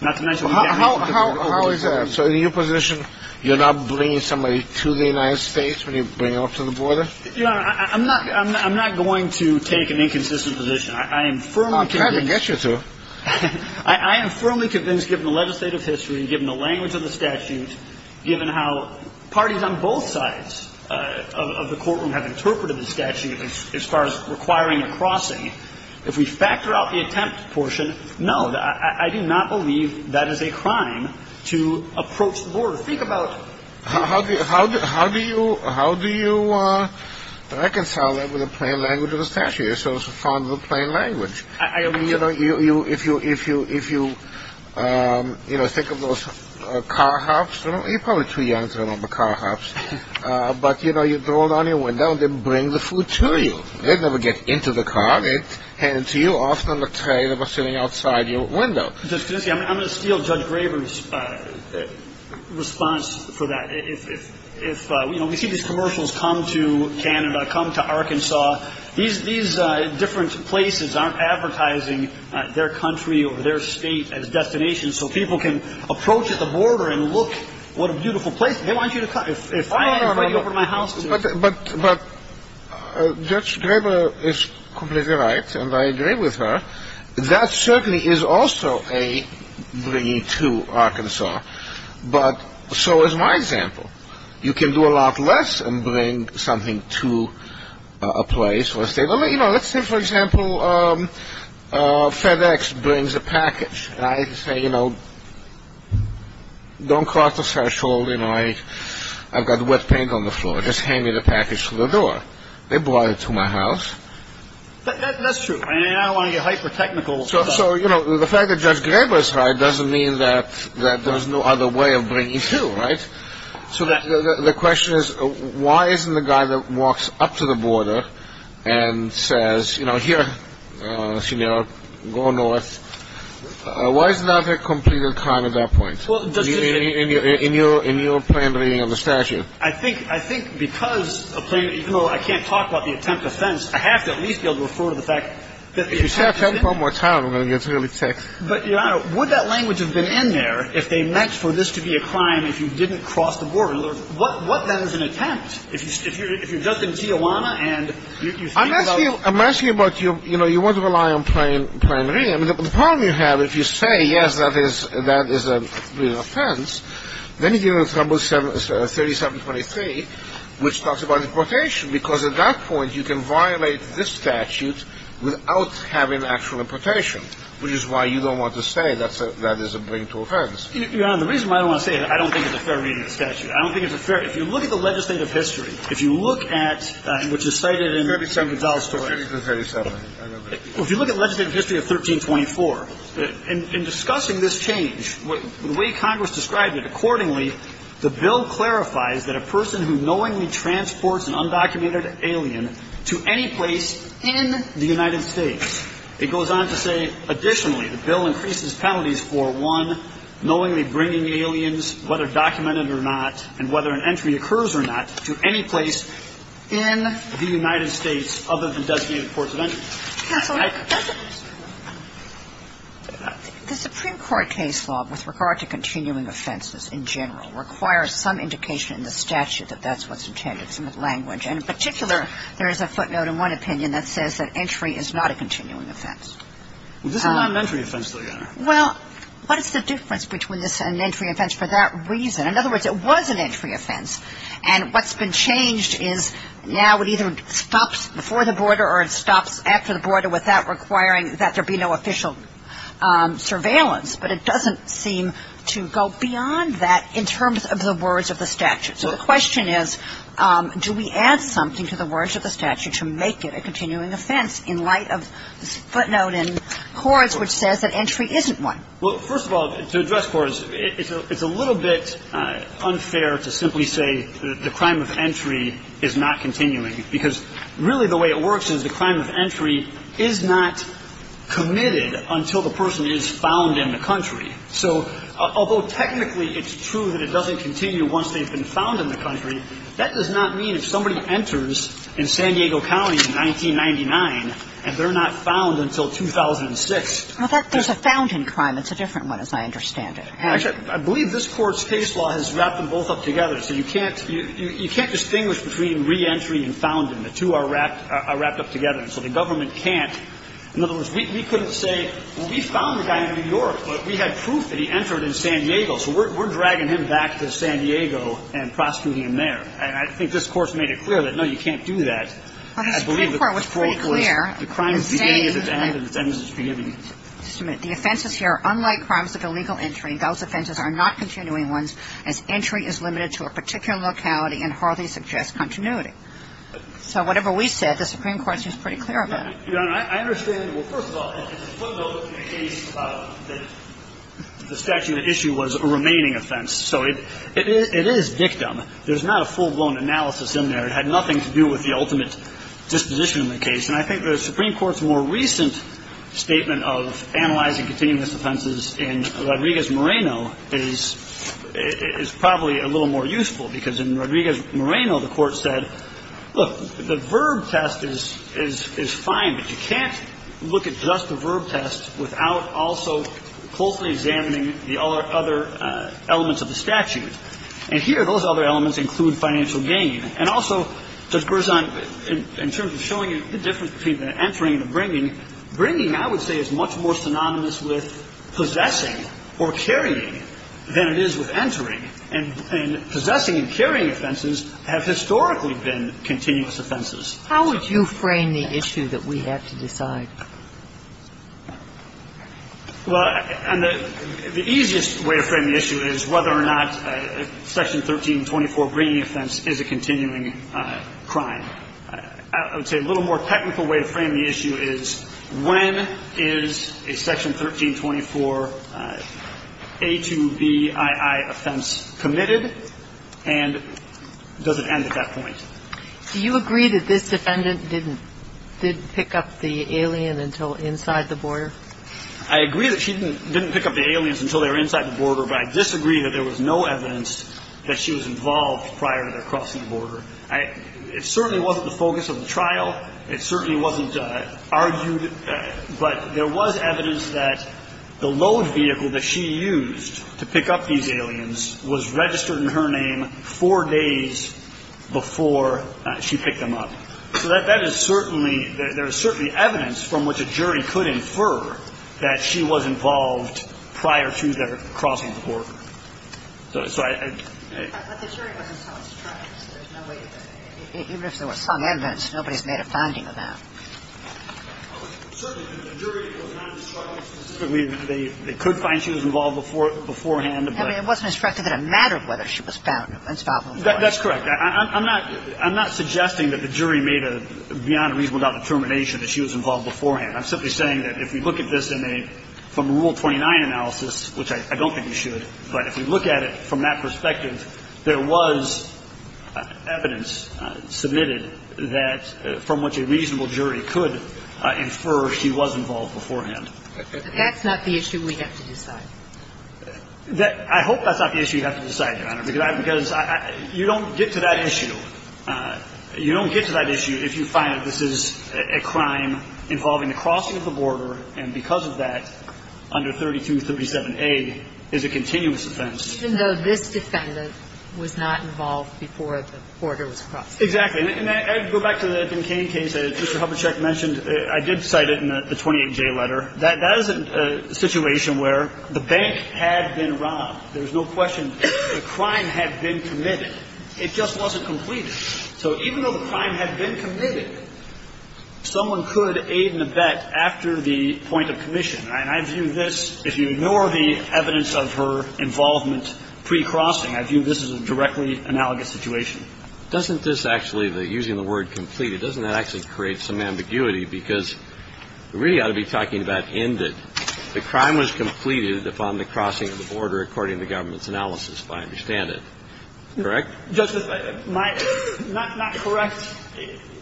Not to mention we can't make them cross the border. How is that? So in your position, you're not bringing somebody to the United States when you bring them off to the border? Your Honor, I'm not going to take an inconsistent position. I am firmly convinced. I'm glad to get you to. I am firmly convinced, given the legislative history and given the language of the statutes, given how parties on both sides of the courtroom have interpreted the statute as far as requiring a crossing, if we factor out the attempt portion, no, I do not believe that is a crime to approach the border. Think about. How do you reconcile that with the plain language of the statute? You're so fond of the plain language. I mean, you know, if you think of those carhops, you're probably too young to remember carhops, but you know, you throw it on your window and they bring the food to you. They'd never get into the car. They'd hand it to you off on the tray that was sitting outside your window. I'm going to steal Judge Graber's response for that. If we see these commercials come to Canada, come to Arkansas, these different places aren't advertising their country or their state as destinations so people can approach at the border and look what a beautiful place. They want you to come. If I invite you over to my house. But Judge Graber is completely right, and I agree with her. That certainly is also a bringing to Arkansas. But so is my example. You can do a lot less and bring something to a place or a state. You know, let's say, for example, FedEx brings a package and I say, you know, don't cross the threshold. You know, I've got wet paint on the floor. Just hand me the package to the door. They brought it to my house. That's true. I mean, I don't want to get hyper technical. So, you know, the fact that Judge Graber is right doesn't mean that there's no other way of bringing food, right? So the question is, why isn't the guy that walks up to the border and says, you know, here, senor, go north. Why is that a completed crime at that point? Well, in your in your in your plan reading of the statute? I think I think because even though I can't talk about the attempt offense, I have to at least be able to refer to the fact that if you say attempt one more time, I'm going to get really ticked. But would that language have been in there if they meant for this to be a crime? If you didn't cross the border? What what then is an attempt? If you're if you're if you're just in Tijuana and I'm asking you, I'm asking you about you, you know, you want to rely on plain plain reading. I mean, the problem you have if you say, yes, that is that is an offense. Then you get into trouble 3723, which talks about importation, because at that point you can violate this statute without having actual importation, which is why you don't want to say that that is a bring to offense. Your Honor, the reason why I don't want to say that I don't think it's a fair reading of the statute. I don't think it's a fair. If you look at the legislative history, if you look at that, which is cited in every sentence of the case, if you look at legislative history of 1324 in discussing this change, the way Congress described it accordingly, the bill clarifies that a person who knowingly transports an undocumented alien to any place in the United States, it goes on to say. Additionally, the bill increases penalties for one knowingly bringing aliens, whether documented or not, and whether an entry occurs or not, to any place in the United States other than designated ports of entry. The Supreme Court case law with regard to continuing offenses in general requires some indication in the statute that that's what's intended. It's in the language. And in particular, there is a footnote in one opinion that says that entry is not a continuing offense. Well, this is not an entry offense, though, Your Honor. Well, what is the difference between this and an entry offense for that reason? In other words, it was an entry offense. And what's been changed is now it either stops before the border or it stops after the border without requiring that there be no official surveillance. But it doesn't seem to go beyond that in terms of the words of the statute. So the question is, do we add something to the words of the statute to make it a continuing offense in light of this footnote in Coors which says that entry isn't one? Well, first of all, to address Coors, it's a little bit unfair to simply say the crime of entry is not continuing because really the way it works is the crime of entry is not committed until the person is found in the country. So although technically it's true that it doesn't continue once they've been found in the country, that does not mean if somebody enters in San Diego County in 1999 and they're not found until 2006. Well, there's a found in crime. It's a different one, as I understand it. Actually, I believe this Court's case law has wrapped them both up together. So you can't distinguish between reentry and found in. The two are wrapped up together. And so the government can't. In other words, we couldn't say, well, we found the guy in New York, but we had proof that he entered in San Diego. So we're dragging him back to San Diego and prosecuting him there. And I think this Court's made it clear that, no, you can't do that. I believe the Court was saying that the offenses here are unlike crimes of illegal entry. Those offenses are not continuing ones, as entry is limited to a particular locality and hardly suggests continuity. So whatever we said, the Supreme Court seems pretty clear about it. Your Honor, I understand. Well, first of all, it's a footnote in the case that the statute at issue was a remaining offense. So it is victim. There's not a full-blown analysis in there. It had nothing to do with the ultimate disposition in the case. And I think the Supreme Court's more recent statement of analyzing continuous offenses in Rodriguez-Moreno is probably a little more useful, because in Rodriguez-Moreno, the Court said, look, the verb test is fine, but you can't look at just the verb test without also closely examining the other elements of the statute. And here, those other elements include financial gain. And also, Judge Berzon, in terms of showing you the difference between the entering and the bringing, bringing, I would say, is much more synonymous with possessing or carrying than it is with entering. And possessing and carrying offenses have historically been continuous offenses. How would you frame the issue that we have to decide? Well, and the easiest way to frame the issue is whether or not Section 1324, bringing offense, is a continuing crime. I would say a little more technical way to frame the issue is when is a Section 1324 A2Bii offense committed, and does it end at that point? Do you agree that this defendant didn't pick up the alien until inside the border? I agree that she didn't pick up the aliens until they were inside the border, but I disagree that there was no evidence that she was involved prior to their crossing the border. It certainly wasn't the focus of the trial. It certainly wasn't argued, but there was evidence that the load vehicle that she used to pick up these aliens was registered in her name four days before she picked them up. So that is certainly – there is certainly evidence from which a jury could infer that she was involved prior to their crossing the border. So I – But the jury wasn't so instructive, so there's no way to – even if there was some evidence, nobody's made a finding of that. Certainly, the jury was not instructive. Specifically, they could find she was involved beforehand, but – I mean, it wasn't instructive in a matter of whether she was found and found before. That's correct. I'm not – I'm not suggesting that the jury made a beyond-reasonable-doubt determination that she was involved beforehand. I'm simply saying that if we look at this in a – from a Rule 29 analysis, which I don't think we should, but if we look at it from that perspective, there was evidence submitted that – from which a reasonable jury could infer she was involved beforehand. But that's not the issue we have to decide. That – I hope that's not the issue you have to decide, Your Honor, because I – because I – you don't get to that issue – you don't get to that issue if you find that this is a crime involving the crossing of the border, and because of that, under Rule 3237A is a continuous offense. Even though this defendant was not involved before the border was crossed. Exactly. And I go back to the Dinkane case that Mr. Hubachek mentioned. I did cite it in the 28J letter. That is a situation where the bank had been robbed. There's no question the crime had been committed. It just wasn't completed. So even though the crime had been committed, someone could aid in a bet after the point of commission. And I view this – if you ignore the evidence of her involvement pre-crossing, I view this as a directly analogous situation. Doesn't this actually – using the word completed, doesn't that actually create some ambiguity, because we really ought to be talking about ended. The crime was completed upon the crossing of the border according to the government's analysis, if I understand it. Correct? Justice, my – not correct.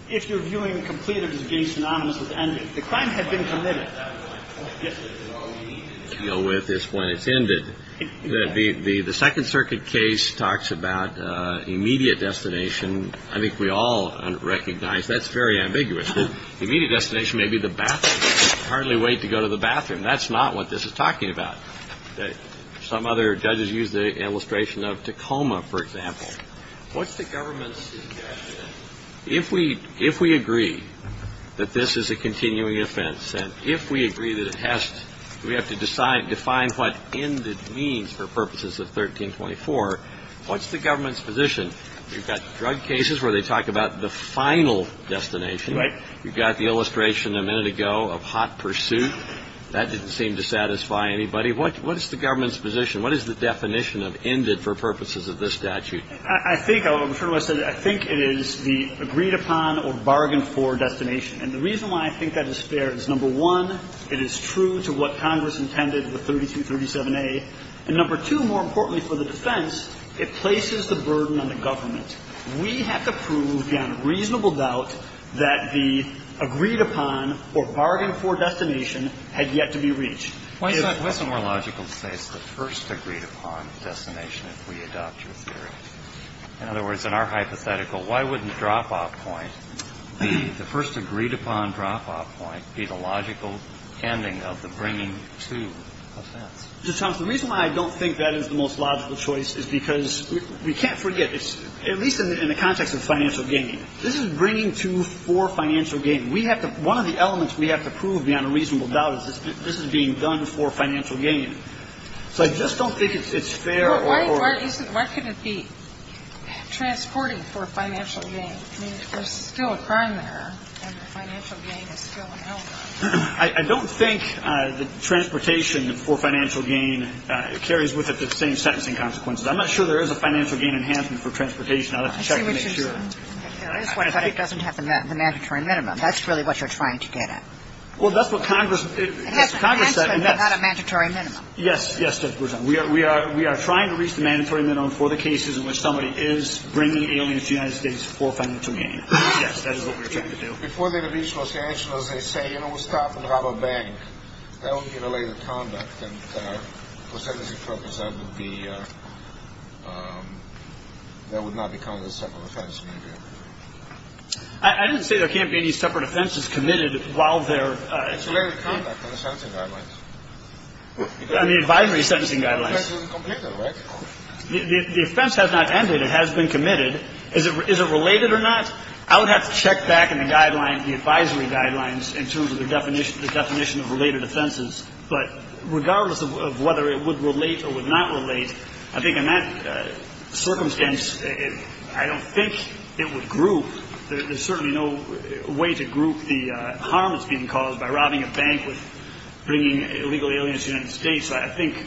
If you're viewing completed as being synonymous with ended, the crime had been committed. Yes, that is my point, that all we need to deal with is when it's ended. The Second Circuit case talks about immediate destination. I think we all recognize that's very ambiguous. Immediate destination may be the bathroom. Hardly wait to go to the bathroom. That's not what this is talking about. Some other judges use the illustration of Tacoma, for example. What's the government's suggestion? If we agree that this is a continuing offense, and if we agree that it has to – we have to define what ended means for purposes of 1324, what's the government's position? You've got drug cases where they talk about the final destination. Right. You've got the illustration a minute ago of hot pursuit. That didn't seem to satisfy anybody. What's the government's position? What is the definition of ended for purposes of this statute? I think – I'm sure I said it. I think it is the agreed-upon or bargained-for destination. And the reason why I think that is fair is, number one, it is true to what Congress intended with 3237A. And number two, more importantly for the defense, it places the burden on the government. We have to prove beyond reasonable doubt that the agreed-upon or bargained-for destination had yet to be reached. Why is that more logical to say it's the first agreed-upon destination if we adopt your theory? In other words, in our hypothetical, why wouldn't drop-off point be – the first agreed-upon drop-off point be the logical ending of the bringing to offense? So, Thomas, the reason why I don't think that is the most logical choice is because we can't forget, at least in the context of financial gain, this is bringing to for financial gain. We have to – one of the elements we have to prove beyond a reasonable doubt is this is being done for financial gain. So I just don't think it's fair or – Why couldn't it be transporting for financial gain? I mean, there's still a crime there, and the financial gain is still an element. I don't think the transportation for financial gain carries with it the same sentencing consequences. I'm not sure there is a financial gain enhancement for transportation. I'll have to check and make sure. I see what you're saying. There is one, but it doesn't have the mandatory minimum. That's really what you're trying to get at. Well, that's what Congress – It has an enhancement, but not a mandatory minimum. Yes. Yes, Judge Bergeon. We are trying to reach the mandatory minimum for the cases in which somebody is bringing aliens to the United States for financial gain. Yes, that is what we're trying to do. Before the individual sentencers, they say, you know, we'll stop and rob a bank. That would be related conduct, and for sentencing purposes that would be – that would not become a separate offense in any way. I didn't say there can't be any separate offenses committed while they're – It's related conduct in the sentencing guidelines. In the advisory sentencing guidelines. The offense has not ended. It has been committed. Is it related or not? I would have to check back in the guidelines, the advisory guidelines, in terms of the definition of related offenses, but regardless of whether it would relate or would not relate, I think in that circumstance, I don't think it would group. There's certainly no way to group the harm that's being caused by robbing a bank with illegal aliens to the United States. I think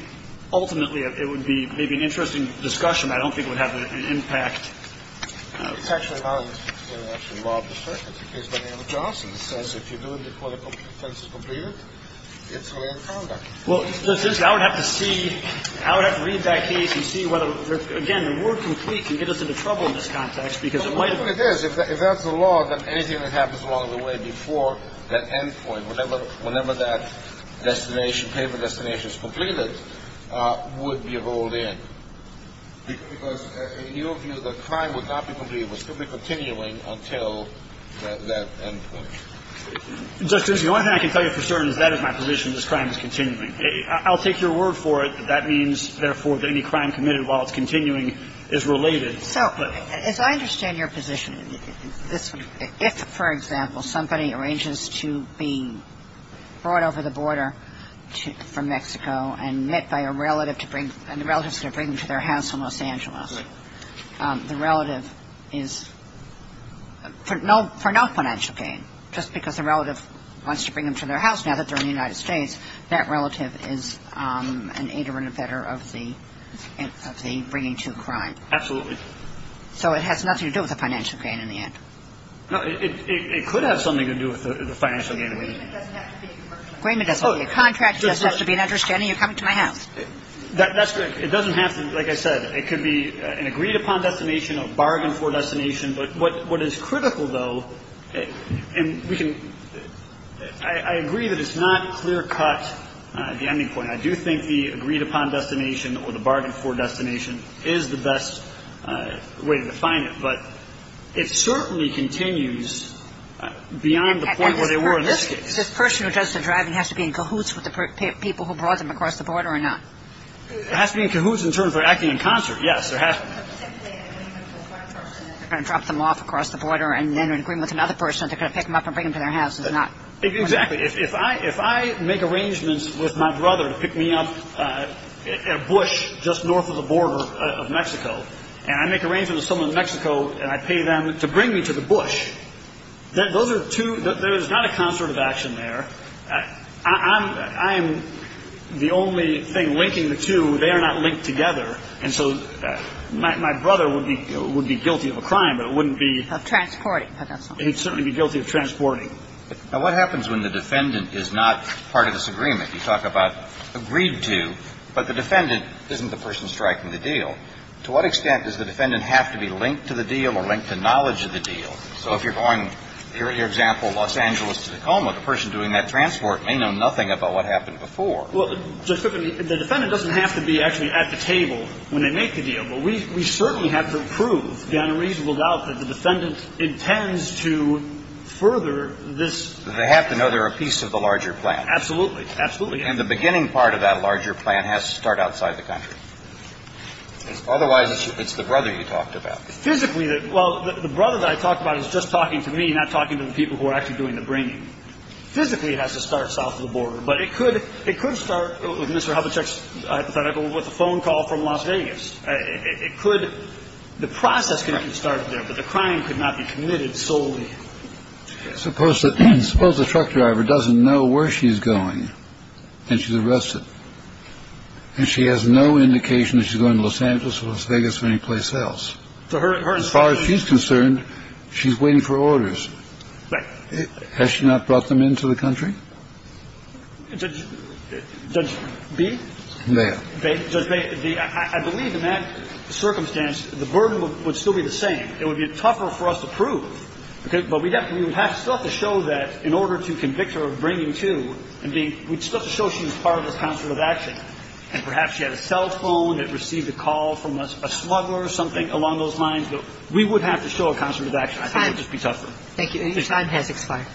ultimately it would be maybe an interesting discussion. I don't think it would have an impact. It's actually not a law of the circuit. It's a case by Neal Johnson. It says if you do it before the offense is completed, it's related conduct. Well, I would have to see – I would have to read that case and see whether – again, the word complete can get us into trouble in this context because it might have – It is. If that's the law, then anything that happens along the way before that endpoint, whenever that destination, payment destination is completed, would be rolled in. Because in your view, the crime would not be completed. It would still be continuing until that endpoint. Justice, the only thing I can tell you for certain is that is my position, this crime is continuing. I'll take your word for it that that means, therefore, that any crime committed while it's continuing is related. So, as I understand your position, if, for example, somebody arranges to be brought over the border from Mexico and met by a relative to bring – and the relative's going to bring them to their house in Los Angeles, the relative is – for no financial gain, just because the relative wants to bring them to their house now that they're in the United States, that relative is an aider and a better of the bringing to the crime. Absolutely. So, it has nothing to do with the financial gain in the end? No, it could have something to do with the financial gain. Agreement doesn't have to be a commercial agreement. Agreement doesn't have to be a contract. It just has to be an understanding you're coming to my house. That's correct. It doesn't have to – like I said, it could be an agreed upon destination, a bargain for destination. But what is critical, though – and we can – I agree that it's not clear cut, the ending point. I do think the agreed upon destination or the bargain for destination is the best way to define it. But it certainly continues beyond the point where they were in this case. This person who does the driving has to be in cahoots with the people who brought them across the border or not? It has to be in cahoots in terms of their acting in concert, yes. There has to be. They're going to drop them off across the border and then in agreement with another person, they're going to pick them up and bring them to their house. Exactly. If I make arrangements with my brother to pick me up a bush just north of the border of Mexico, and I make arrangements with someone in Mexico and I pay them to bring me to the bush, those are two – there is not a concert of action there. I'm the only thing linking the two. They are not linked together. And so my brother would be guilty of a crime, but it wouldn't be – Of transporting potential. He'd certainly be guilty of transporting. Now, what happens when the defendant is not part of this agreement? You talk about agreed to, but the defendant isn't the person striking the deal. To what extent does the defendant have to be linked to the deal or linked to knowledge of the deal? So if you're going, for example, Los Angeles to Tacoma, the person doing that transport may know nothing about what happened before. Well, Justice Kagan, the defendant doesn't have to be actually at the table when they make the deal, but we certainly have to prove beyond a reasonable doubt that the defendant intends to further this. They have to know they're a piece of the larger plan. Absolutely. Absolutely. And the beginning part of that larger plan has to start outside the country. Otherwise, it's the brother you talked about. Physically, well, the brother that I talked about is just talking to me, not talking to the people who are actually doing the bringing. Physically, it has to start south of the border, but it could start, with Mr. Hubachek's hypothetical, with a phone call from Las Vegas. It could the process could have started there, but the crime could not be committed solely. Suppose the truck driver doesn't know where she's going and she's arrested, and she has no indication that she's going to Los Angeles or Las Vegas or anyplace else. As far as she's concerned, she's waiting for orders. Right. Has she not brought them into the country? Judge B? Bail. Judge B, I believe in that circumstance, the burden would still be the same. It would be tougher for us to prove, but we'd have to show that in order to convict her of bringing to, we'd still have to show she was part of this concert of action. And perhaps she had a cell phone that received a call from a smuggler or something along those lines. But we would have to show a concert of action. I think it would just be tougher. Thank you. And your time has expired.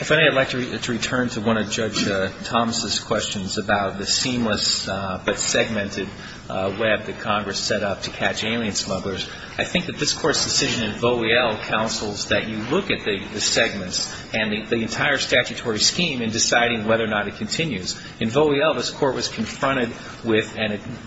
If I may, I'd like to return to one of Judge Thomas's questions about the seamless but segmented web that Congress set up to catch alien smugglers. I think that this Court's decision in Vaux-Lieu counsels that you look at the segments and the entire statutory scheme in deciding whether or not it continues. In Vaux-Lieu, this Court was confronted with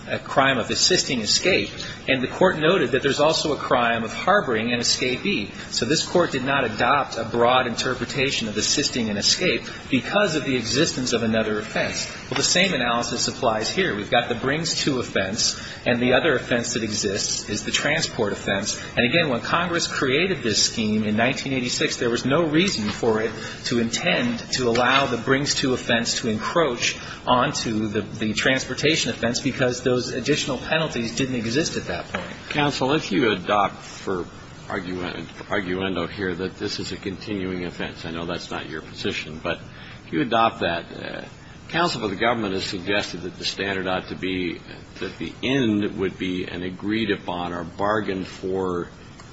a crime of smuggling. It was a crime of assisting escape. And the Court noted that there's also a crime of harboring an escapee. So this Court did not adopt a broad interpretation of assisting an escape because of the existence of another offense. Well, the same analysis applies here. We've got the brings-to offense, and the other offense that exists is the transport offense. And again, when Congress created this scheme in 1986, there was no reason for it to intend to allow the brings-to offense to encroach onto the transportation offense because those additional penalties didn't exist at that point. Counsel, if you adopt for arguendo here that this is a continuing offense, I know that's not your position, but if you adopt that, counsel, but the government has suggested that the standard ought to be that the end would be an agreed-upon or bargained-for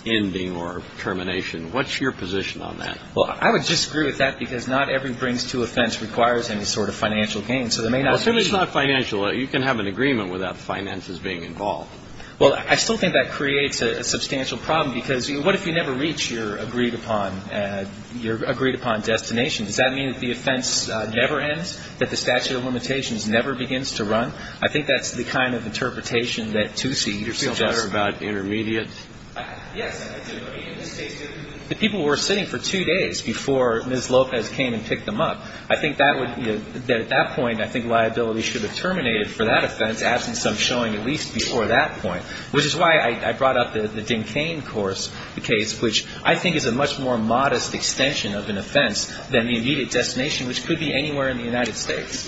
ending or termination. What's your position on that? Well, I would disagree with that because not every brings-to offense requires any sort of financial gain. Well, certainly it's not financial. You can have an agreement without finances being involved. Well, I still think that creates a substantial problem because what if you never reach your agreed-upon destination? Does that mean that the offense never ends, that the statute of limitations never begins to run? I think that's the kind of interpretation that Toosie suggests. Do you feel better about intermediates? Yes, I do. I mean, in this case, the people were sitting for two days before Ms. Lopez came and picked them up. I think that at that point, I think liability should have terminated for that offense, absent some showing at least before that point, which is why I brought up the Dinkane case, which I think is a much more modest extension of an offense than the immediate destination, which could be anywhere in the United States.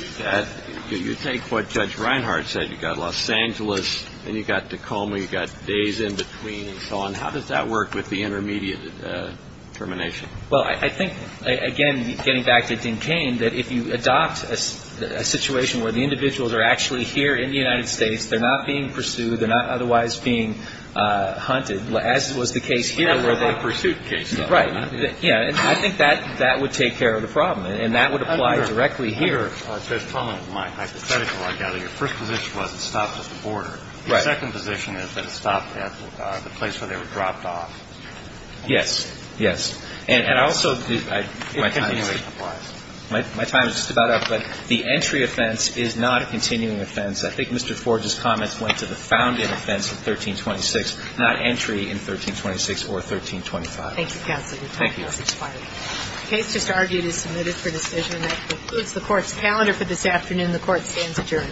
You take what Judge Reinhart said. You've got Los Angeles, then you've got Tacoma. You've got days in between and so on. How does that work with the intermediate termination? Well, I think, again, getting back to Dinkane, that if you adopt a situation where the individuals are actually here in the United States, they're not being pursued, they're not otherwise being hunted, as was the case here where they were not pursued case. Right. Yeah. And I think that would take care of the problem. And that would apply directly here. Under Judge Tomlin, my hypothetical, I gather, your first position was it stopped at the border. Right. The second position is that it stopped at the place where they were dropped off. Yes. Yes. And also, my time is just about up, but the entry offense is not a continuing offense. I think Mr. Forge's comments went to the found-in offense of 1326, not entry in 1326 or 1325. Thank you, counsel. Your time has expired. The case just argued is submitted for decision. That concludes the Court's calendar for this afternoon. The Court stands adjourned.